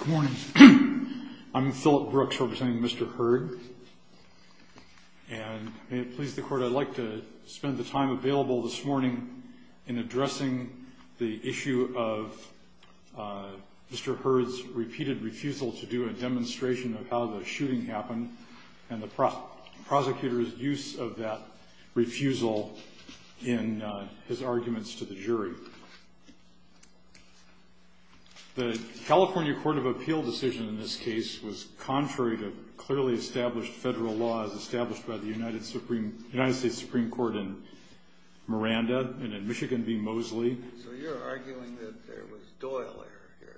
Good morning. I'm Philip Brooks representing Mr. Hurd. And may it please the Court, I'd like to spend the time available this morning in addressing the issue of Mr. Hurd's repeated refusal to do a demonstration of how the shooting happened and the prosecutor's use of that refusal in his arguments to the jury. The California Court of Appeal decision in this case was contrary to clearly established federal law as established by the United States Supreme Court in Miranda and in Michigan v. Mosley. So you're arguing that there was Doyle error here?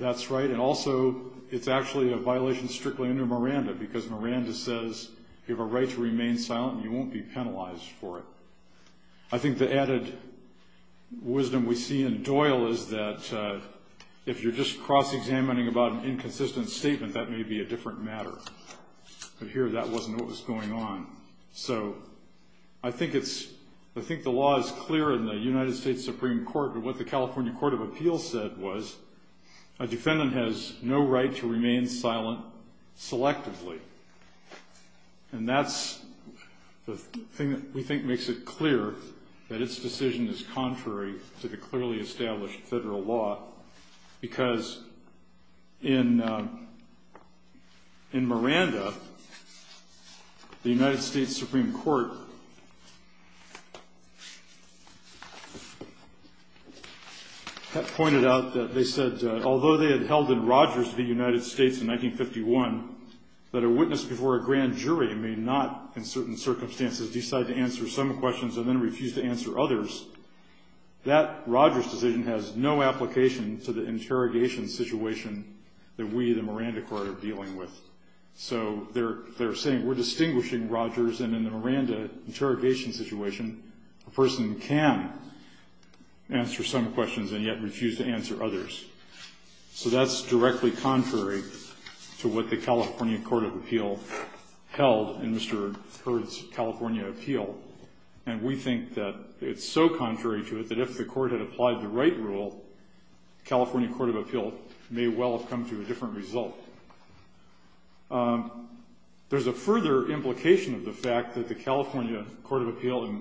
That's right. And also, it's actually a violation strictly under Miranda because Miranda says you have a right to remain silent and you won't be penalized for it. I think the added wisdom we see in Doyle is that if you're just cross-examining about an inconsistent statement, that may be a different matter. But here, that wasn't what was going on. So I think the law is clear in the United States Supreme Court, but what the California Court of Appeal said was a defendant has no right to remain silent selectively. And that's the thing that we think makes it clear that its decision is contrary to the clearly established federal law because in Miranda, the United States Supreme Court pointed out that they said, although they had held in Rogers v. United States in 1951 that a witness before a grand jury may not, in certain circumstances, decide to answer some questions and then refuse to answer others, that Rogers decision has no application to the interrogation situation that we, the Miranda Court, are dealing with. So they're saying we're distinguishing Rogers, and in the Miranda interrogation situation, a person can answer some questions and yet refuse to answer others. So that's directly contrary to what the California Court of Appeal held in Mr. Hurd's California appeal. And we think that it's so contrary to it that if the court had applied the right rule, the California Court of Appeal may well have come to a different result. There's a further implication of the fact that the California Court of Appeal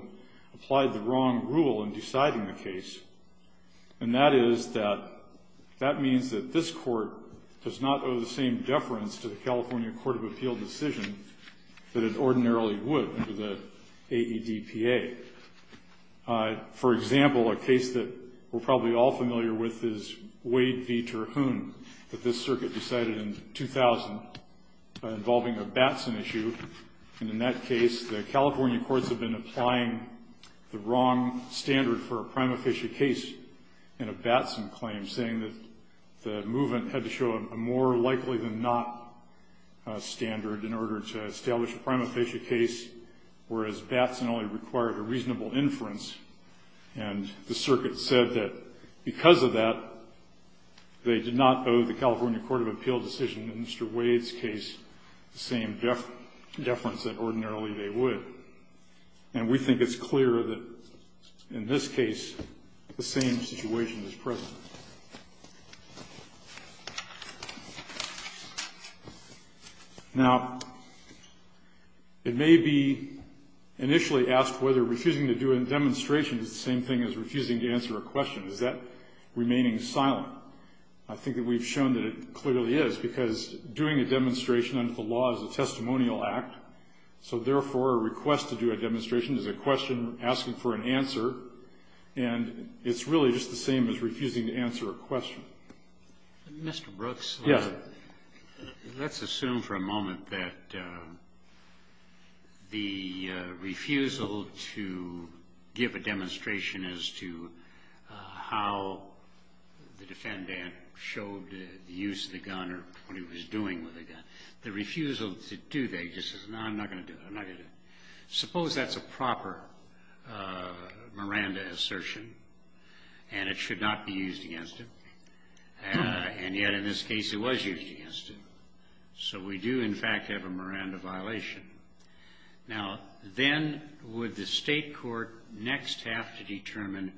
applied the wrong rule in deciding the case, and that is that that means that this court does not owe the same deference to the California Court of Appeal decision that it ordinarily would under the AEDPA. For example, a case that we're probably all familiar with is Wade v. Terhune, that this circuit decided in 2000 involving a Batson issue. And in that case, the California courts have been applying the wrong standard for a prima facie case in a Batson claim, saying that the movement had to show a more likely than not standard in order to establish a prima facie case, whereas Batson only required a reasonable inference. And the circuit said that because of that, they did not owe the California Court of Appeal decision in Mr. Wade's case the same deference that ordinarily they would. And we think it's clear that in this case, the same situation is present. Now, it may be initially asked whether refusing to do a demonstration is the same thing as refusing to answer a question. Is that remaining silent? I think that we've shown that it clearly is, because doing a demonstration under the law is a testimonial act, so therefore a request to do a demonstration is a question asking for an answer, and it's really just the same as refusing to answer a question. Mr. Brooks? Yes. Let's assume for a moment that the refusal to give a demonstration as to how the defendant showed the use of the gun or what he was doing with the gun, the refusal to do that just says, no, I'm not going to do it, I'm not going to do it. Suppose that's a proper Miranda assertion and it should not be used against him, and yet in this case it was used against him. So we do, in fact, have a Miranda violation. Now, then would the state court next have to determine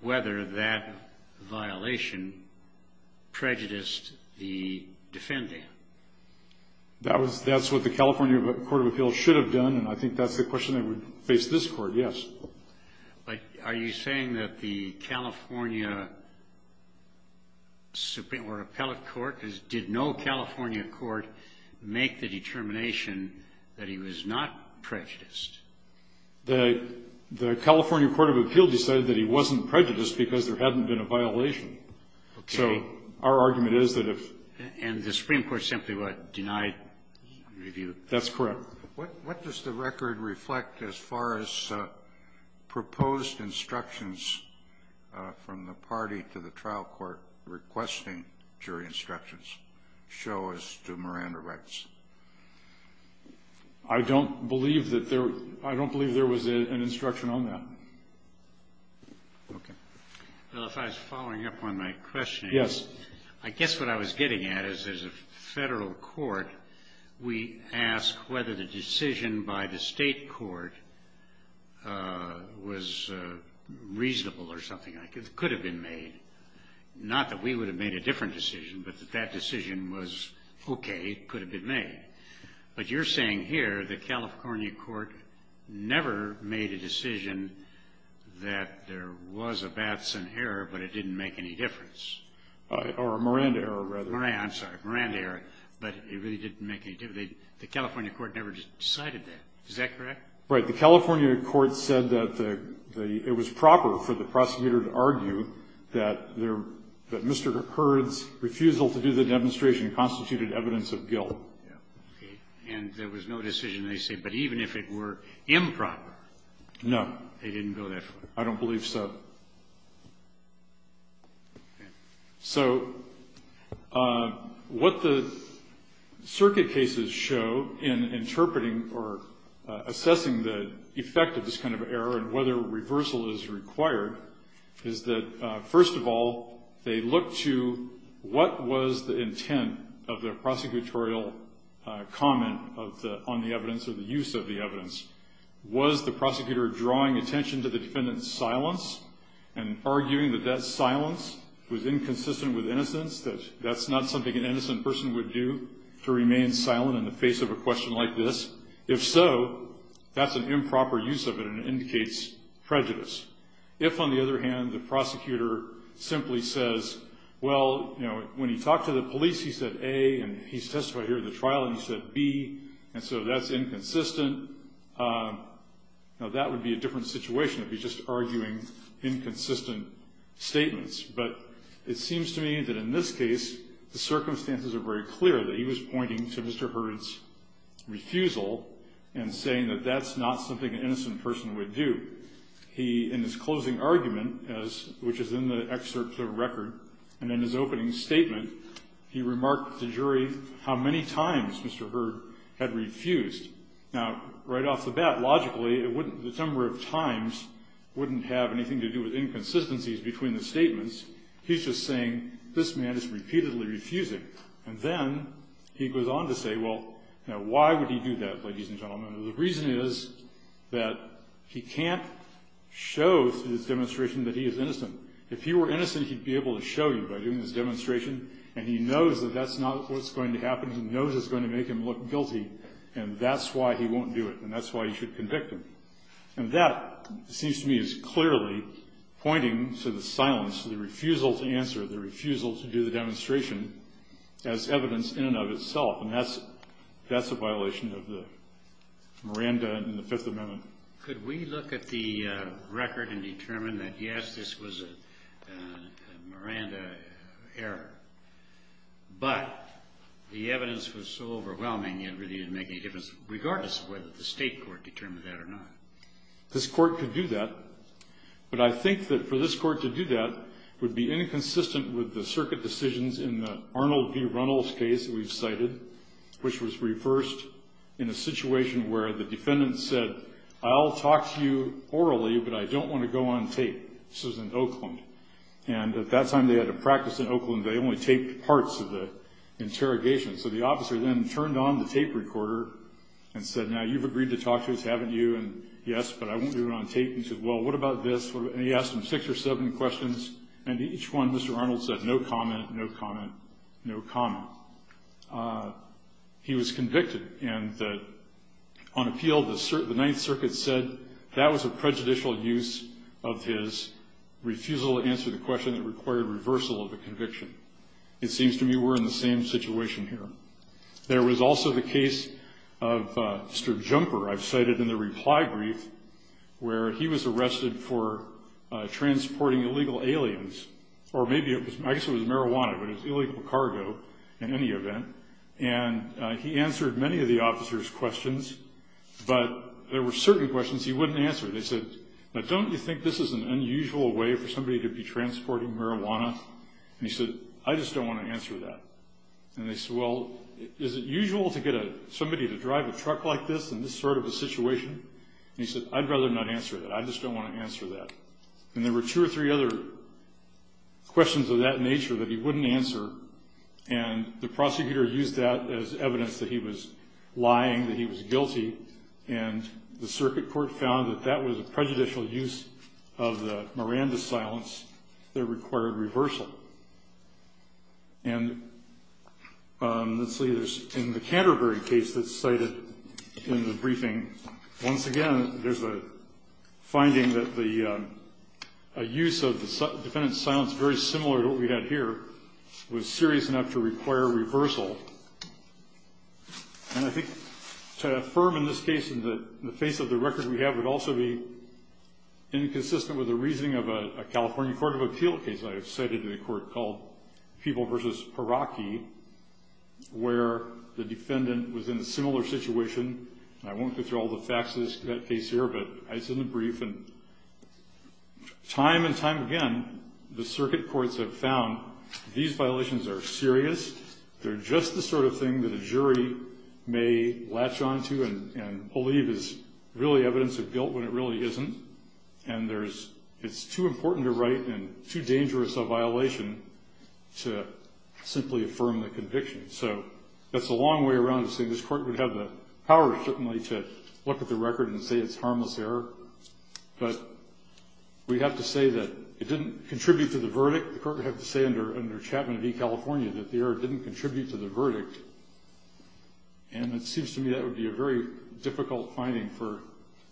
whether that violation prejudiced the defendant? That's what the California Court of Appeals should have done, and I think that's the question that would face this court, yes. But are you saying that the California Supreme Court or Appellate Court, did no California court make the determination that he was not prejudiced? The California Court of Appeals decided that he wasn't prejudiced because there hadn't been a violation. Okay. So our argument is that if... And the Supreme Court simply what? Denied review. That's correct. What does the record reflect as far as proposed instructions from the party to the trial court requesting jury instructions show as to Miranda rights? I don't believe that there was an instruction on that. Okay. Well, if I was following up on my question... Yes. I guess what I was getting at is there's a federal court. We ask whether the decision by the state court was reasonable or something like it. It could have been made. Not that we would have made a different decision, but that that decision was okay, it could have been made. But you're saying here the California court never made a decision that there was a Batson error, but it didn't make any difference. Or a Miranda error, rather. Miranda, I'm sorry. Miranda error, but it really didn't make any difference. The California court never decided that. Is that correct? Right. The California court said that it was proper for the prosecutor to argue that Mr. Hurd's refusal to do the demonstration constituted evidence of guilt. Okay. And there was no decision they said, but even if it were improper... No. ...they didn't go that far? I don't believe so. Okay. So what the circuit cases show in interpreting or assessing the effect of this kind of error and whether reversal is required is that, first of all, they look to what was the intent of the prosecutorial comment on the evidence or the use of the evidence. Was the prosecutor drawing attention to the defendant's silence and arguing that that silence was inconsistent with innocence, that that's not something an innocent person would do, to remain silent in the face of a question like this? If so, that's an improper use of it and indicates prejudice. If, on the other hand, the prosecutor simply says, well, you know, when he talked to the police he said, A, and he testified here at the trial and he said, B, and so that's inconsistent, now that would be a different situation if he's just arguing inconsistent statements. But it seems to me that in this case the circumstances are very clear, that he was pointing to Mr. Hurd's refusal and saying that that's not something an innocent person would do. He, in his closing argument, which is in the excerpt to the record, and in his opening statement, he remarked to the jury how many times Mr. Hurd had refused. Now, right off the bat, logically, the number of times wouldn't have anything to do with inconsistencies between the statements. He's just saying, this man is repeatedly refusing. And then he goes on to say, well, why would he do that, ladies and gentlemen? The reason is that he can't show through this demonstration that he is innocent. If he were innocent, he'd be able to show you by doing this demonstration, and he knows that that's not what's going to happen, he knows it's going to make him look guilty, and that's why he won't do it, and that's why he should convict him. And that, it seems to me, is clearly pointing to the silence, the refusal to answer, the refusal to do the demonstration as evidence in and of itself, and that's a violation of the Miranda in the Fifth Amendment. Could we look at the record and determine that, yes, this was a Miranda error, but the evidence was so overwhelming it really didn't make any difference, regardless of whether the state court determined that or not. This court could do that, but I think that for this court to do that would be inconsistent with the circuit decisions in the Arnold v. Reynolds case that we've cited, which was reversed in a situation where the defendant said, I'll talk to you orally, but I don't want to go on tape. This was in Oakland, and at that time they had a practice in Oakland. They only taped parts of the interrogation. So the officer then turned on the tape recorder and said, Now, you've agreed to talk to us, haven't you? And, yes, but I won't do it on tape. And he said, Well, what about this? And he asked him six or seven questions, and each one Mr. Arnold said, No comment, no comment, no comment. He was convicted, and on appeal the Ninth Circuit said that was a prejudicial use of his refusal to answer the question that required reversal of the conviction. It seems to me we're in the same situation here. There was also the case of Mr. Jumper. I've cited in the reply brief where he was arrested for transporting illegal aliens, or maybe I guess it was marijuana, but it was illegal cargo in any event, and he answered many of the officer's questions, but there were certain questions he wouldn't answer. They said, Now, don't you think this is an unusual way for somebody to be transporting marijuana? And he said, I just don't want to answer that. And they said, Well, is it usual to get somebody to drive a truck like this in this sort of a situation? And he said, I'd rather not answer that. I just don't want to answer that. And there were two or three other questions of that nature that he wouldn't answer, and the prosecutor used that as evidence that he was lying, that he was guilty, and the circuit court found that that was a prejudicial use of the Miranda silence that required reversal. And let's see, in the Canterbury case that's cited in the briefing, once again, there's a finding that the use of the defendant's silence, very similar to what we had here, was serious enough to require reversal. And I think to affirm in this case in the face of the record we have would also be inconsistent with the reasoning of a California court of appeal case I have cited in a court called People v. Paraki, where the defendant was in a similar situation. I won't go through all the facts of that case here, but it's in the brief. And time and time again, the circuit courts have found these violations are serious. They're just the sort of thing that a jury may latch on to and believe is really evidence of guilt when it really isn't. And it's too important a right and too dangerous a violation to simply affirm the conviction. So that's a long way around to say this court would have the power, certainly, to look at the record and say it's a harmless error. But we have to say that it didn't contribute to the verdict. The court would have to say under Chapman v. California that the error didn't contribute to the verdict. And it seems to me that would be a very difficult finding for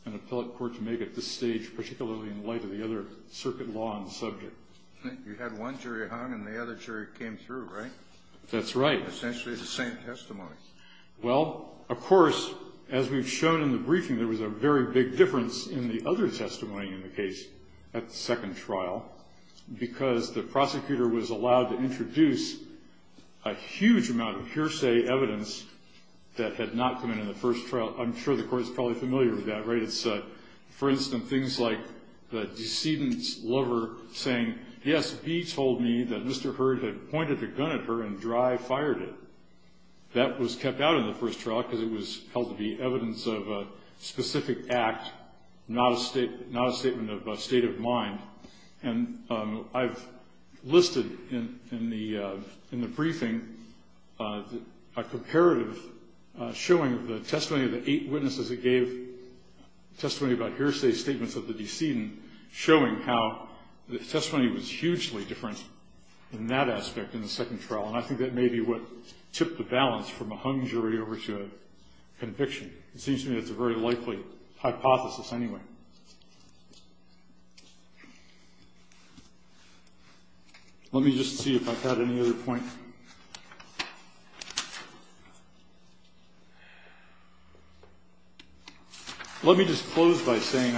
an appellate court to make at this stage, particularly in light of the other circuit law on the subject. You had one jury hung and the other jury came through, right? That's right. Essentially the same testimony. Well, of course, as we've shown in the briefing, there was a very big difference in the other testimony in the case at the second trial because the prosecutor was allowed to introduce a huge amount of hearsay evidence that had not come in in the first trial. I'm sure the court is probably familiar with that, right? It's, for instance, things like the decedent's lover saying, yes, he told me that Mr. Hurd had pointed a gun at her and dry-fired it. That was kept out in the first trial because it was held to be evidence of a specific act, not a statement of a state of mind. And I've listed in the briefing a comparative showing the testimony of the eight witnesses that gave testimony about hearsay statements of the decedent showing how the testimony was hugely different in that aspect in the second trial. And I think that may be what tipped the balance from a hung jury over to a conviction. It seems to me that's a very likely hypothesis anyway. Let me just see if I've got any other points. Let me just close by saying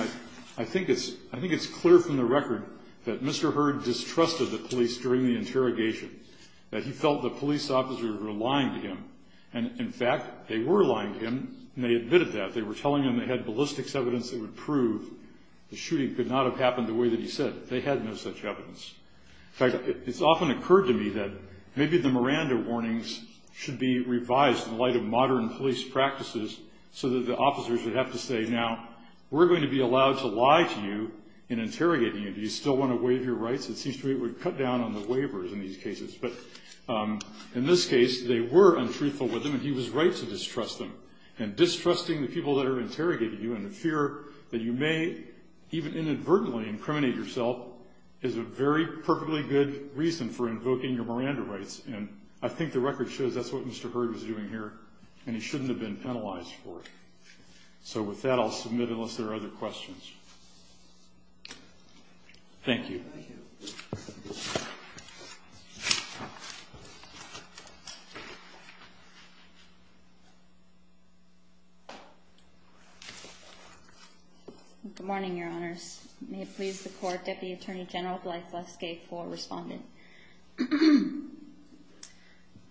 I think it's clear from the record that Mr. Hurd distrusted the police during the interrogation, that he felt the police officers were lying to him. And, in fact, they were lying to him, and they admitted that. They were telling him they had ballistics evidence that would prove the shooting could not have happened the way that he said it. They had no such evidence. In fact, it's often occurred to me that maybe the Miranda warnings should be revised in light of modern police practices so that the officers would have to say, now, we're going to be allowed to lie to you in interrogating you. Do you still want to waive your rights? It seems to me it would cut down on the waivers in these cases. But in this case, they were untruthful with him, and he was right to distrust them. And distrusting the people that are interrogating you and the fear that you may even inadvertently incriminate yourself is a very perfectly good reason for invoking your Miranda rights. And I think the record shows that's what Mr. Hurd was doing here, and he shouldn't have been penalized for it. So with that, I'll submit unless there are other questions. Thank you. Thank you. Good morning, Your Honors. May it please the Court, Deputy Attorney General Blythe Leskay for responding.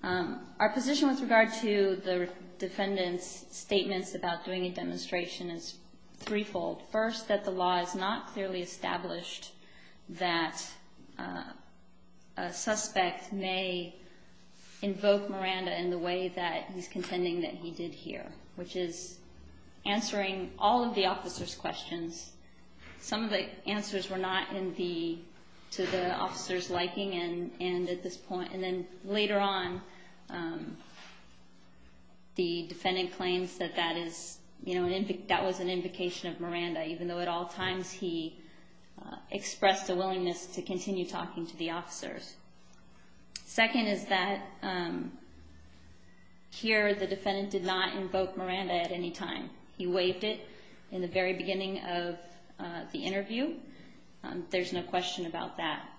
Our position with regard to the defendant's statements about doing a demonstration is threefold. First, that the law is not clearly established that a suspect may invoke Miranda in the way that he's contending that he did here, which is answering all of the officer's questions. Some of the answers were not to the officer's liking and at this point. And then later on, the defendant claims that that was an invocation of Miranda, even though at all times he expressed a willingness to continue talking to the officers. Second is that here the defendant did not invoke Miranda at any time. He waived it in the very beginning of the interview. There's no question about that.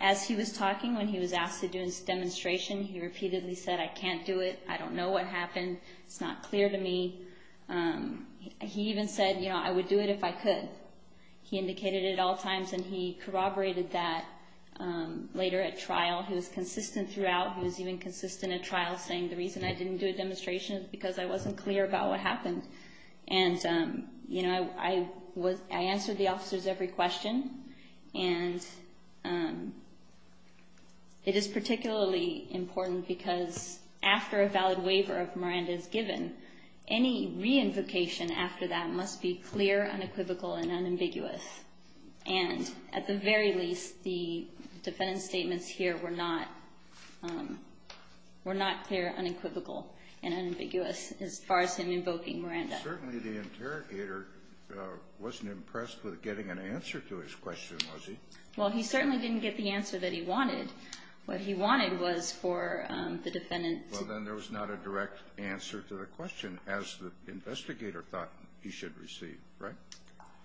As he was talking when he was asked to do his demonstration, he repeatedly said, I can't do it. I don't know what happened. It's not clear to me. He even said, I would do it if I could. He indicated it at all times and he corroborated that later at trial. He was consistent throughout. He was even consistent at trial saying the reason I didn't do a demonstration is because I wasn't clear about what happened. I answered the officers' every question. It is particularly important because after a valid waiver of Miranda is given, any reinvocation after that must be clear, unequivocal, and unambiguous. And at the very least, the defendant's statements here were not clear, unequivocal, and unambiguous as far as him invoking Miranda. Certainly the interrogator wasn't impressed with getting an answer to his question, was he? Well, he certainly didn't get the answer that he wanted. What he wanted was for the defendant to answer to the question as the investigator thought he should receive. Right?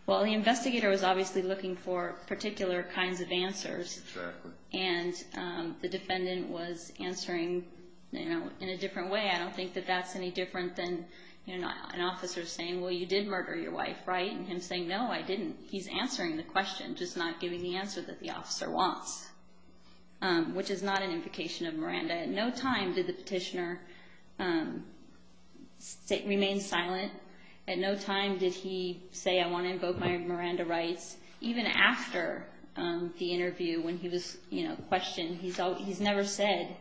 Well, the investigator was obviously looking for particular kinds of answers. Exactly. And the defendant was answering in a different way. I don't think that that's any different than an officer saying, well, you did murder your wife. Right? And him saying, no, I didn't. He's answering the question, just not giving the answer that the officer wants, which is not an invocation of Miranda. At no time did the petitioner remain silent. At no time did he say, I want to invoke my Miranda rights. Even after the interview when he was questioned, he's never said,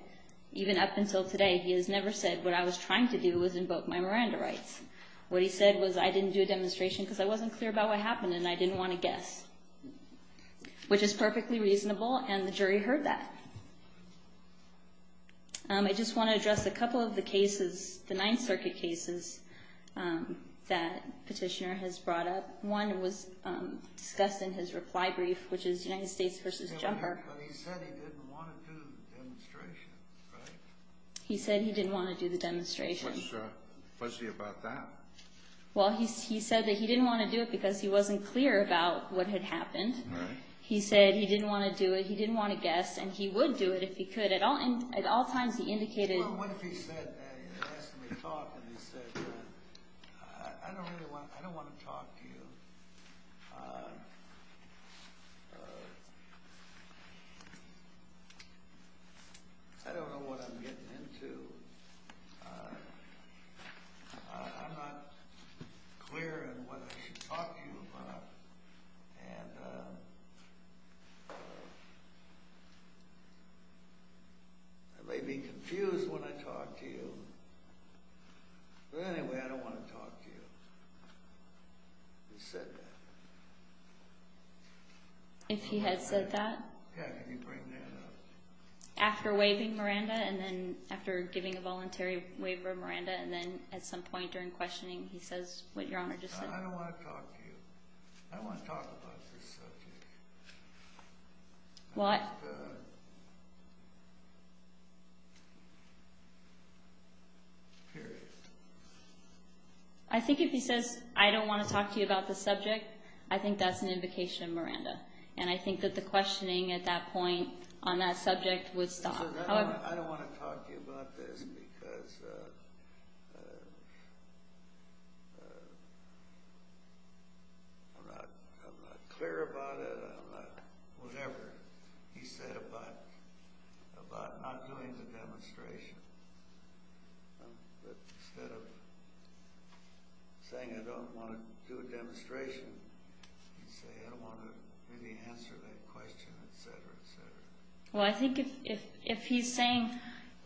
even up until today, he has never said, what I was trying to do was invoke my Miranda rights. What he said was, I didn't do a demonstration because I wasn't clear about what happened and I didn't want to guess. Which is perfectly reasonable, and the jury heard that. I just want to address a couple of the cases, the Ninth Circuit cases, that petitioner has brought up. One was discussed in his reply brief, which is United States v. Jumper. But he said he didn't want to do the demonstration, right? He said he didn't want to do the demonstration. What's fuzzy about that? Well, he said that he didn't want to do it because he wasn't clear about what had happened. He said he didn't want to do it, he didn't want to guess, and he would do it if he could. At all times he indicated... Well, what if he said, asked me to talk, and he said, I don't want to talk to you. I don't know what I'm getting into. I'm not clear in what I should talk to you about. I may be confused when I talk to you, but anyway, I don't want to talk to you. He said that. If he had said that? Yeah, can you bring that up? After waiving Miranda, and then after giving a voluntary waiver of Miranda, and then at some point during questioning, he says what Your Honor just said. I don't want to talk to you. I don't want to talk about this subject. Well, I... Period. I think if he says, I don't want to talk to you about this subject, I think that's an invocation of Miranda. And I think that the questioning at that point on that subject would stop. He said, I don't want to talk to you about this because... I'm not clear about it. I'm not whatever he said about not doing the demonstration. Instead of saying, I don't want to do a demonstration, he'd say, I don't want to maybe answer that question, et cetera, et cetera. Well, I think if he's saying,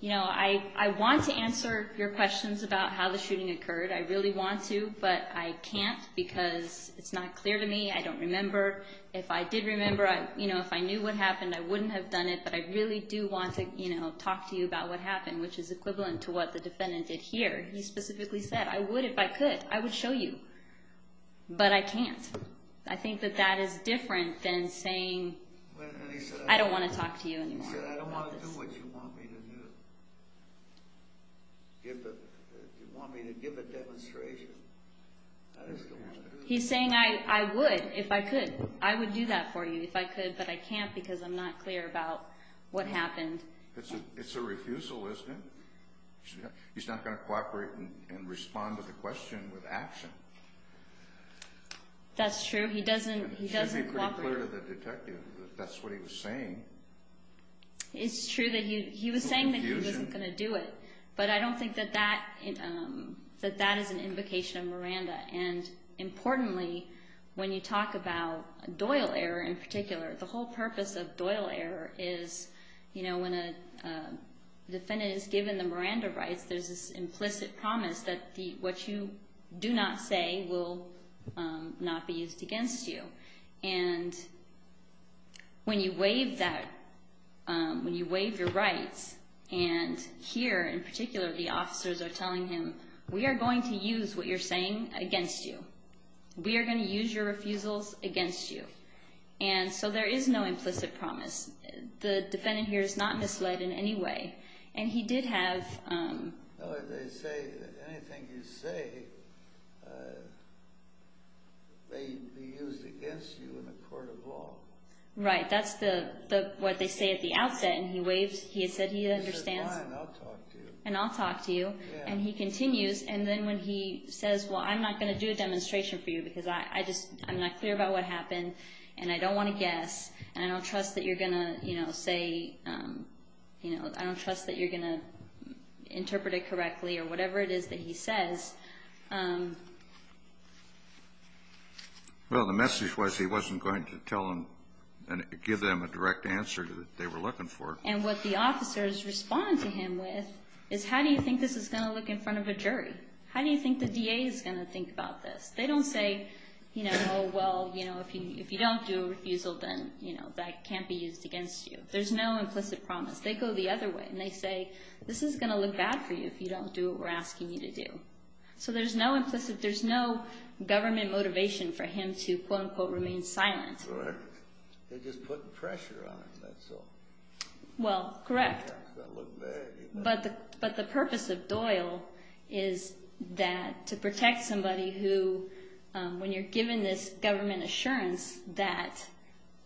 you know, I want to answer your questions about how the shooting occurred. I really want to, but I can't because it's not clear to me. I don't remember. If I did remember, you know, if I knew what happened, I wouldn't have done it, but I really do want to, you know, talk to you about what happened, which is equivalent to what the defendant did here. He specifically said, I would if I could. I would show you, but I can't. I think that that is different than saying, I don't want to talk to you anymore. He's saying, I would if I could. I would do that for you if I could, but I can't because I'm not clear about what happened. It's a refusal, isn't it? He's not going to cooperate and respond to the question with action. That's true. He doesn't cooperate. It should be pretty clear to the detective that that's what he was saying. It's true that he was saying that he wasn't going to do it, but I don't think that that is an invocation of Miranda. And importantly, when you talk about a Doyle error in particular, the whole purpose of Doyle error is, you know, when a defendant is given the Miranda rights, there's this implicit promise that what you do not say will not be used against you. And when you waive that, when you waive your rights, and here in particular the officers are telling him, we are going to use what you're saying against you. We are going to use your refusals against you. And so there is no implicit promise. The defendant here is not misled in any way. And he did have... They say anything you say may be used against you in a court of law. Right. That's what they say at the outset. And he waived. He said he understands. He said, fine, I'll talk to you. And I'll talk to you. And he continues. And then when he says, well, I'm not going to do a demonstration for you because I'm not clear about what happened, and I don't want to guess, and I don't trust that you're going to say, you know, I don't trust that you're going to interpret it correctly, or whatever it is that he says. Well, the message was he wasn't going to tell them and give them a direct answer that they were looking for. And what the officers respond to him with is, how do you think this is going to look in front of a jury? How do you think the DA is going to think about this? They don't say, you know, oh, well, you know, if you don't do a refusal, then, you know, that can't be used against you. There's no implicit promise. They go the other way, and they say, this is going to look bad for you if you don't do what we're asking you to do. So there's no implicit, there's no government motivation for him to, quote, unquote, remain silent. They're just putting pressure on him, that's all. Well, correct. It's going to look bad. But the purpose of Doyle is that to protect somebody who, when you're given this government assurance that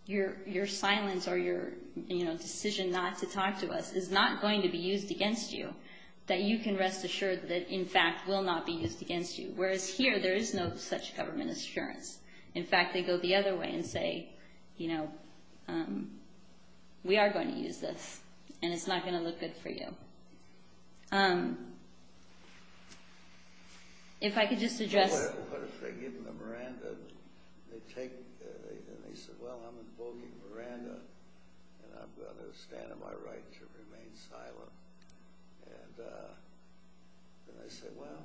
your silence or your decision not to talk to us is not going to be used against you, that you can rest assured that, in fact, will not be used against you. Whereas here, there is no such government assurance. In fact, they go the other way and say, you know, we are going to use this, and it's not going to look good for you. If I could just address... What if they give them a Miranda, and they take, and they say, well, I'm invoking Miranda, and I'm going to stand on my right to remain silent. And they say, well,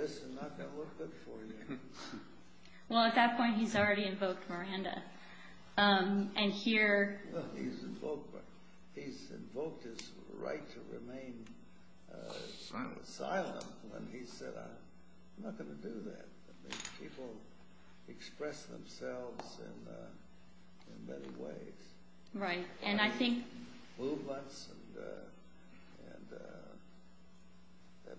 this is not going to look good for you. Well, at that point, he's already invoked Miranda. And here... He's invoked his right to remain silent when he said, I'm not going to do that. People express themselves in many ways. Right, and I think... A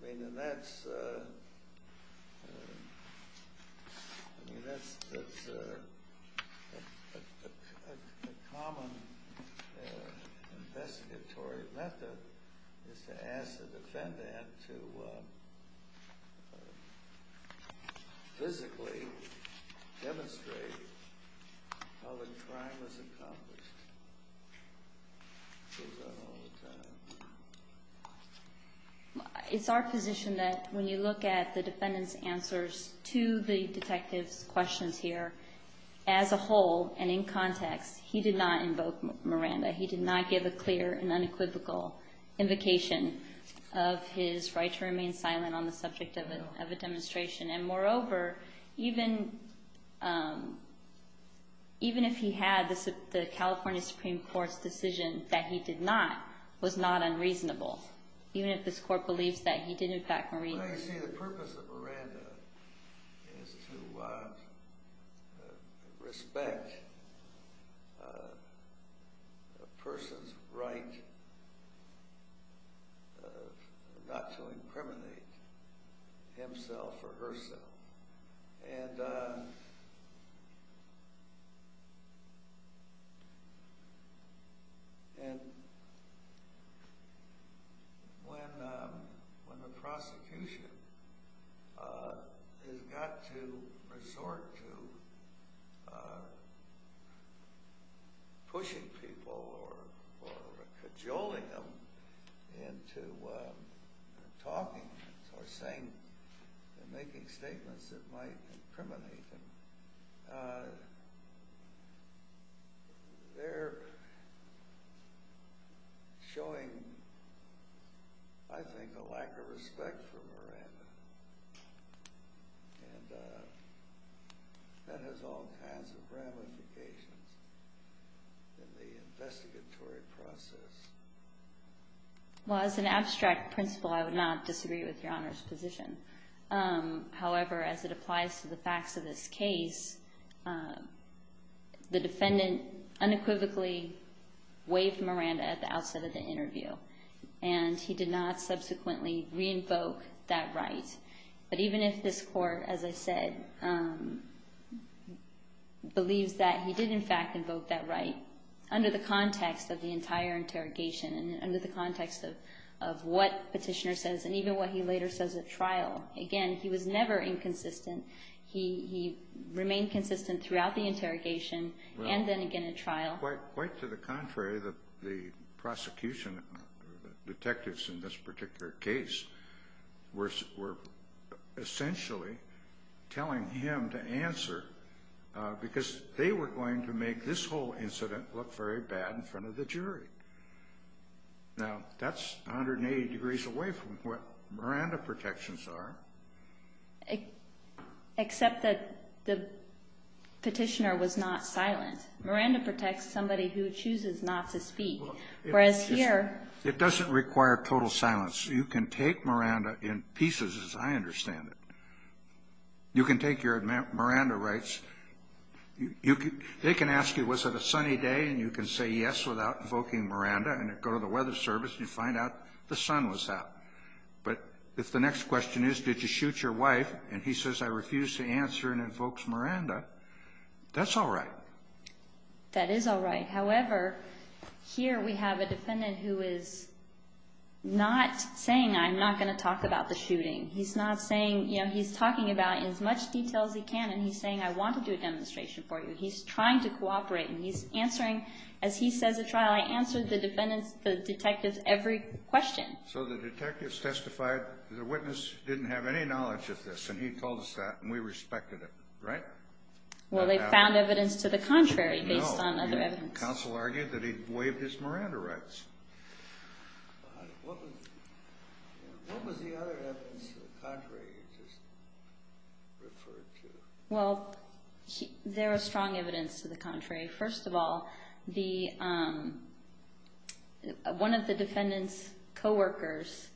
common investigatory method is to ask the defendant to physically demonstrate how the crime was accomplished. It goes on all the time. It's our position that when you look at the defendant's answers to the detective's questions here, as a whole and in context, he did not invoke Miranda. He did not give a clear and unequivocal invocation of his right to remain silent on the subject of a demonstration. And moreover, even if he had, the California Supreme Court's decision that he did not was not unreasonable, even if this Court believes that he did in fact... is to respect a person's right not to incriminate himself or herself. And when the prosecution has got to resort to pushing people or cajoling them into talking or saying or making statements that might incriminate them, they're showing, I think, a lack of respect for Miranda. And that has all kinds of ramifications in the investigatory process. Well, as an abstract principle, I would not disagree with Your Honor's position. However, as it applies to the facts of this case, the defendant unequivocally waived Miranda at the outset of the interview. And he did not subsequently re-invoke that right. But even if this Court, as I said, believes that he did in fact invoke that right, under the context of the entire interrogation and under the context of what Petitioner says and even what he later says at trial, again, he was never inconsistent. He remained consistent throughout the interrogation and then again at trial. Quite to the contrary, the prosecution detectives in this particular case were essentially telling him to answer because they were going to make this whole incident look very bad in front of the jury. Now, that's 180 degrees away from what Miranda protections are. Except that Petitioner was not silent. Miranda protects somebody who chooses not to speak. It doesn't require total silence. You can take Miranda in pieces, as I understand it. You can take your Miranda rights. They can ask you, was it a sunny day? And you can say yes without invoking Miranda. And you go to the weather service and you find out the sun was out. But if the next question is, did you shoot your wife? And he says, I refuse to answer and invokes Miranda, that's all right. That is all right. However, here we have a defendant who is not saying, I'm not going to talk about the shooting. He's not saying, you know, he's talking about it in as much detail as he can. And he's saying, I want to do a demonstration for you. He's trying to cooperate. And he's answering, as he says at trial, I answered the detectives' every question. So the detectives testified, the witness didn't have any knowledge of this, and he told us that, and we respected it, right? Well, they found evidence to the contrary based on other evidence. No, the counsel argued that he waived his Miranda rights. What was the other evidence to the contrary you just referred to? Well, there was strong evidence to the contrary. First of all, one of the defendant's coworkers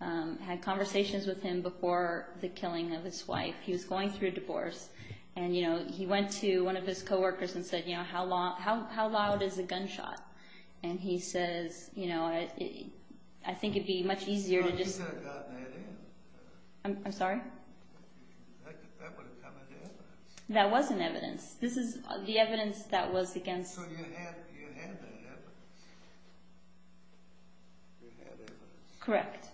had conversations with him before the killing of his wife. He was going through a divorce, and, you know, he went to one of his coworkers and said, you know, how loud is a gunshot? And he says, you know, I think it would be much easier to just – I'm sorry? That wasn't evidence. This is the evidence that was against – Correct.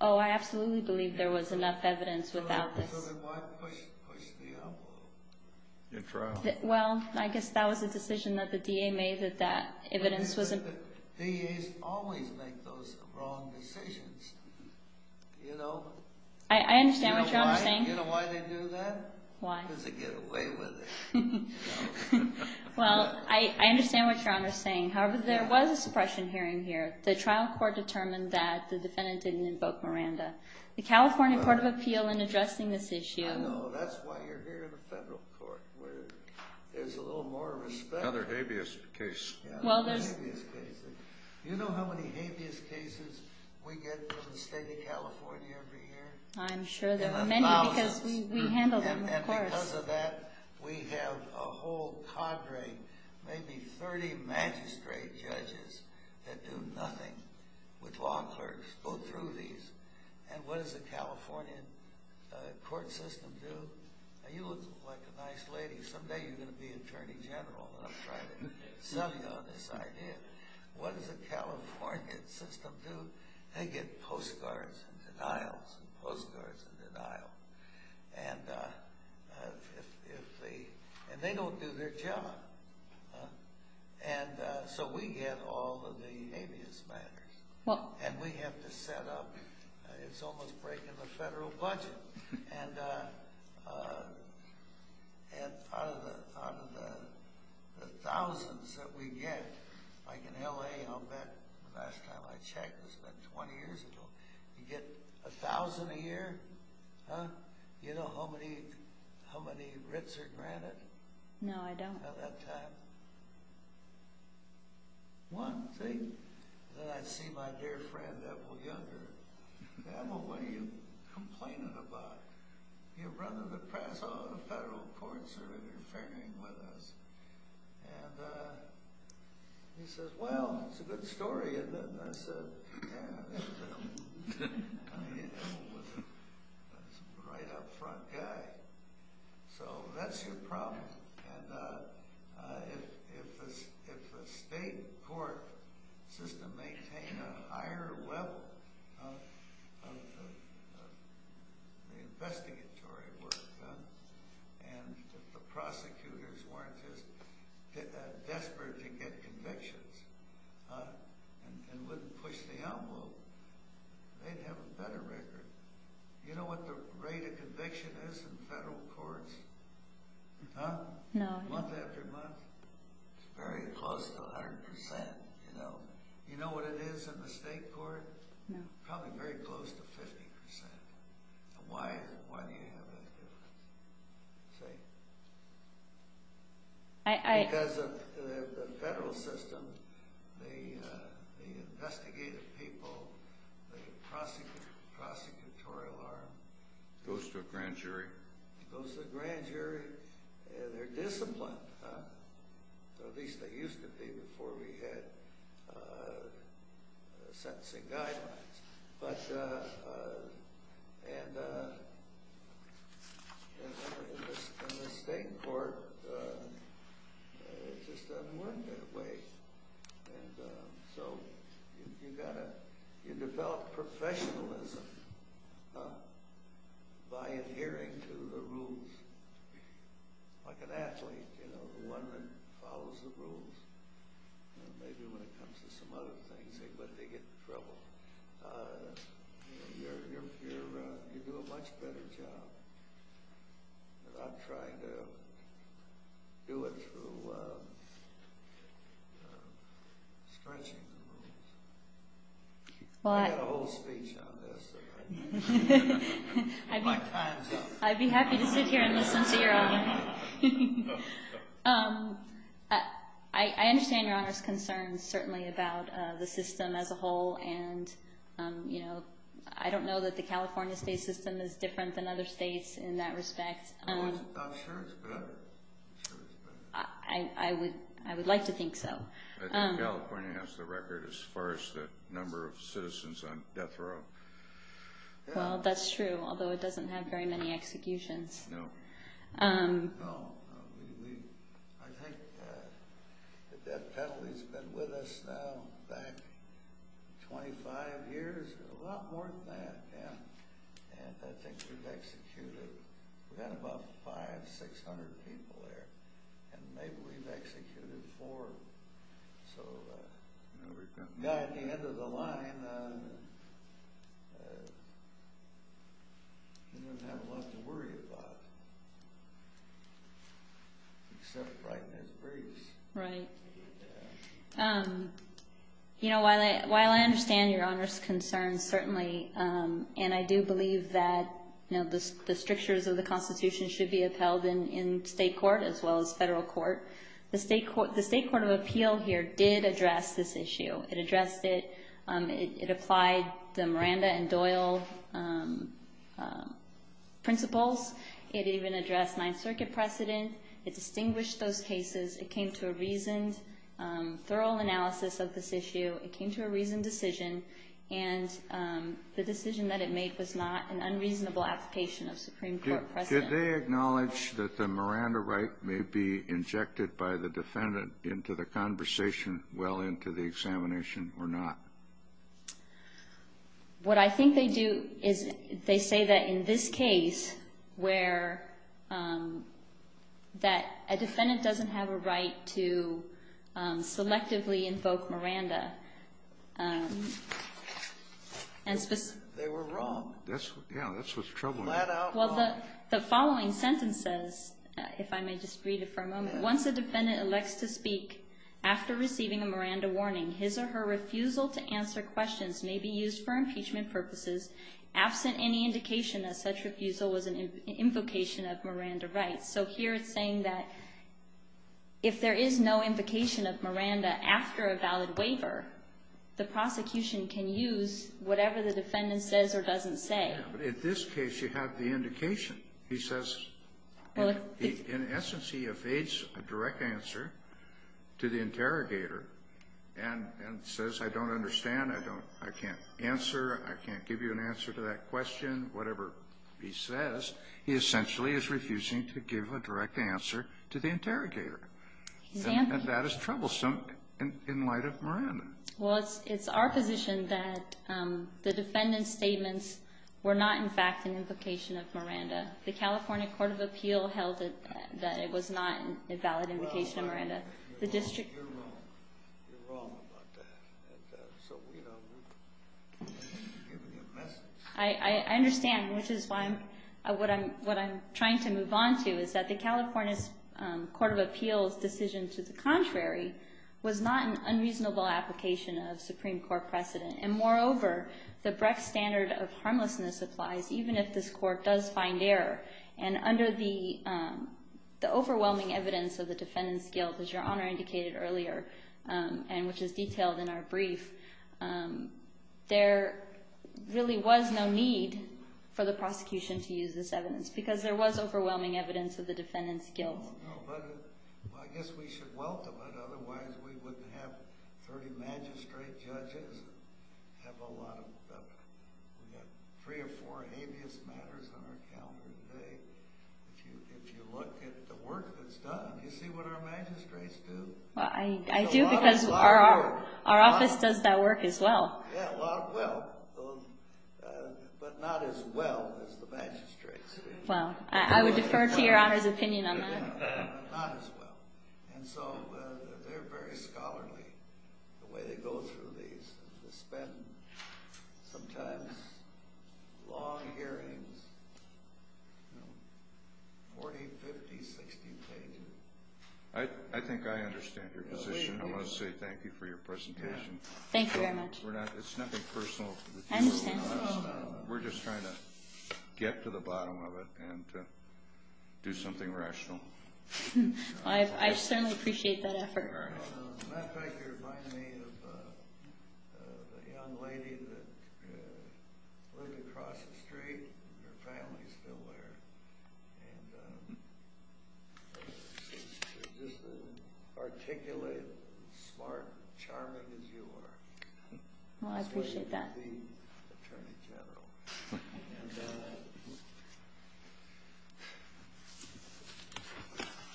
Oh, I absolutely believe there was enough evidence without this. Well, I guess that was a decision that the DA made that that evidence was – I understand what you're saying. Well, I understand what you're saying. However, there was a suppression hearing here. The trial court determined that the defendant didn't invoke Miranda. The California Court of Appeal in addressing this issue – I know. That's why you're here in the federal court, where there's a little more respect. Another habeas case. Well, there's – You know how many habeas cases we get from the state of California every year? I'm sure there are many because we handle them, of course. Because of that, we have a whole cadre, maybe 30 magistrate judges that do nothing with law clerks, go through these. And what does the Californian court system do? Now, you look like a nice lady. Someday you're going to be attorney general, and I'll try to sell you on this idea. What does the Californian system do? They get postcards and denials and postcards and denial. And they don't do their job. And so we get all of the habeas matters. And we have to set up – it's almost breaking the federal budget. And out of the thousands that we get, like in L.A., I'll bet the last time I checked, it was about 20 years ago, you get 1,000 a year. You know how many writs are granted? No, I don't. About that time. One thing that I see my dear friend, Evel Younger, Evel, what are you complaining about? Your brother, the press, all the federal courts are interfering with us. And he says, well, it's a good story. And I said, yeah, Evel was a right up front guy. So that's your problem. And if the state court system maintains a higher level of the investigatory work done, and if the prosecutors weren't just desperate to get convictions, and wouldn't push the envelope, they'd have a better record. You know what the rate of conviction is in federal courts? No, I don't. Month after month. It's very close to 100%, you know. You know what it is in the state court? No. Probably very close to 50%. Why do you have that difference? See? Because of the federal system, the investigative people, the prosecutorial arm. Goes to a grand jury. Goes to a grand jury. They're disciplined. At least they used to be before we had sentencing guidelines. But in the state court, it just doesn't work that way. And so you've got to develop professionalism by adhering to the rules. Like an athlete, you know, the one that follows the rules. Maybe when it comes to some other things, when they get in trouble, you do a much better job. But I'm trying to do it through stretching the rules. I've got a whole speech on this. My time's up. I'd be happy to sit here and listen to your honor. I understand your honor's concerns, certainly, about the system as a whole. And I don't know that the California state system is different than other states in that respect. I'm sure it's better. I would like to think so. I think California has the record as far as the number of citizens on death row. Well, that's true, although it doesn't have very many executions. No. No. I think the death penalty's been with us now back 25 years, a lot more than that. And I think we've executed. We've had about 500, 600 people there. And maybe we've executed four. So, at the end of the line, we don't have a lot to worry about, except right in this place. Right. While I understand your honor's concerns, certainly, and I do believe that the strictures of the Constitution should be upheld in state court as well as federal court, the state court of appeal here did address this issue. It addressed it. It applied the Miranda and Doyle principles. It even addressed Ninth Circuit precedent. It distinguished those cases. It came to a reasoned, thorough analysis of this issue. It came to a reasoned decision. And the decision that it made was not an unreasonable application of Supreme Court precedent. Did they acknowledge that the Miranda right may be injected by the defendant into the conversation well into the examination or not? What I think they do is they say that in this case, where that a defendant doesn't have a right to selectively invoke Miranda. They were wrong. Yeah, that's what's troubling me. Well, the following sentence says, if I may just read it for a moment. Once a defendant elects to speak after receiving a Miranda warning, his or her refusal to answer questions may be used for impeachment purposes absent any indication that such refusal was an invocation of Miranda rights. So here it's saying that if there is no invocation of Miranda after a valid waiver, the prosecution can use whatever the defendant says or doesn't say. But in this case, you have the indication. He says, in essence, he evades a direct answer to the interrogator and says, I don't understand. I can't answer. I can't give you an answer to that question. Whatever he says, he essentially is refusing to give a direct answer to the interrogator. And that is troublesome in light of Miranda. Well, it's our position that the defendant's statements were not, in fact, an invocation of Miranda. The California Court of Appeal held that it was not a valid invocation of Miranda. You're wrong. You're wrong about that. So we don't need to give you a message. I understand, which is what I'm trying to move on to, is that the California Court of Appeal's decision to the contrary was not an unreasonable application of Supreme Court precedent. And moreover, the Brecht standard of harmlessness applies even if this court does find error. And under the overwhelming evidence of the defendant's guilt, as Your Honor indicated earlier, and which is detailed in our brief, there really was no need for the prosecution to use this evidence because there was overwhelming evidence of the defendant's guilt. Well, I guess we should welcome it. Otherwise, we wouldn't have 30 magistrate judges. We've got three or four habeas matters on our calendar today. If you look at the work that's done, do you see what our magistrates do? I do because our office does that work as well. Yeah, a lot of well, but not as well as the magistrates. Well, I would defer to Your Honor's opinion on that. Not as well. And so they're very scholarly, the way they go through these. They spend sometimes long hearings, 40, 50, 60 pages. I think I understand your position. I want to say thank you for your presentation. Thank you very much. It's nothing personal. I understand. We're just trying to get to the bottom of it and do something rational. I certainly appreciate that effort. As a matter of fact, you remind me of the young lady that lived across the street. Her family is still there. And she's just as articulate, smart, charming as you are. Well, I appreciate that.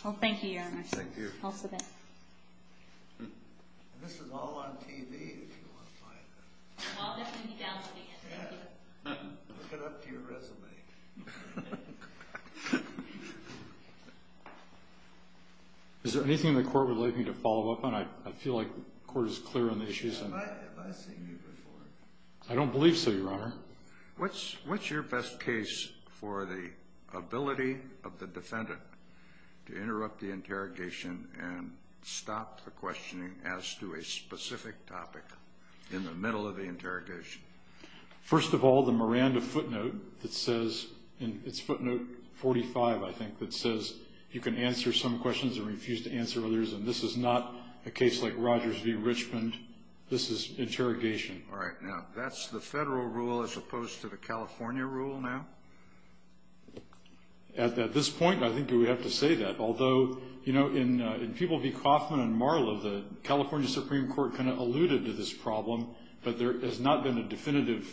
Well, thank you, Your Honor. Thank you. And this is all on TV, if you want to find it. Well, there's going to be downloading it. Yeah. Look it up to your resume. Is there anything the Court would like me to follow up on? I feel like the Court is clear on the issues. Have I seen you before? I don't believe so, Your Honor. What's your best case for the ability of the defendant to interrupt the interrogation and stop the questioning as to a specific topic in the middle of the interrogation? First of all, the Miranda footnote that says, and it's footnote 45, I think, that says you can answer some questions and refuse to answer others, and this is not a case like Rogers v. Richmond. This is interrogation. All right. Now, that's the federal rule as opposed to the California rule now? At this point, I think we would have to say that. Although, you know, in People v. Coffman and Marlow, the California Supreme Court kind of alluded to this problem, but there has not been a definitive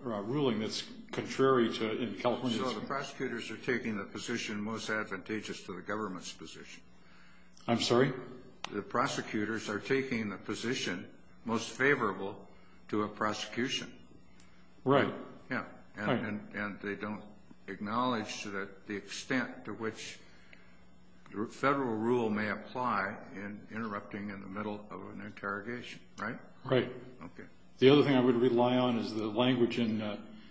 ruling that's contrary in California. So the prosecutors are taking the position most advantageous to the government's position. I'm sorry? The prosecutors are taking the position most favorable to a prosecution. Right. Yeah, and they don't acknowledge the extent to which federal rule may apply in interrupting in the middle of an interrogation, right? Right. Okay. The other thing I would rely on is the language in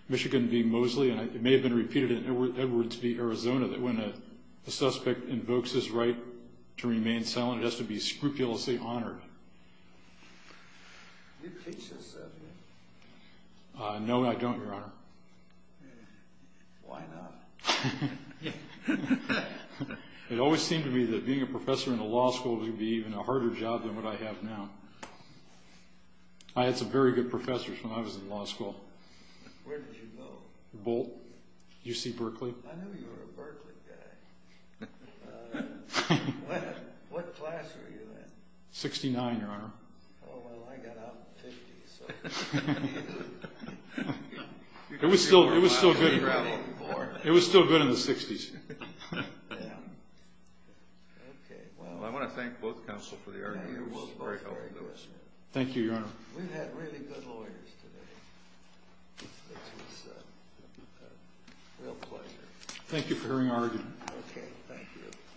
Michigan v. Moseley, and it may have been repeated in Edwards v. Arizona, that when a suspect invokes his right to remain silent, it has to be scrupulously honored. Do you teach this stuff here? No, I don't, Your Honor. Why not? It always seemed to me that being a professor in a law school would be even a harder job than what I have now. I had some very good professors when I was in law school. Where did you go? Boalt, UC Berkeley. I knew you were a Berkeley guy. What class were you in? Sixty-nine, Your Honor. Oh, well, I got out in the fifties. It was still good in the sixties. I want to thank both counsel for the argument. It was very helpful. Thank you, Your Honor. We've had really good lawyers today. It was a real pleasure. Thank you for hearing our argument. Okay, thank you.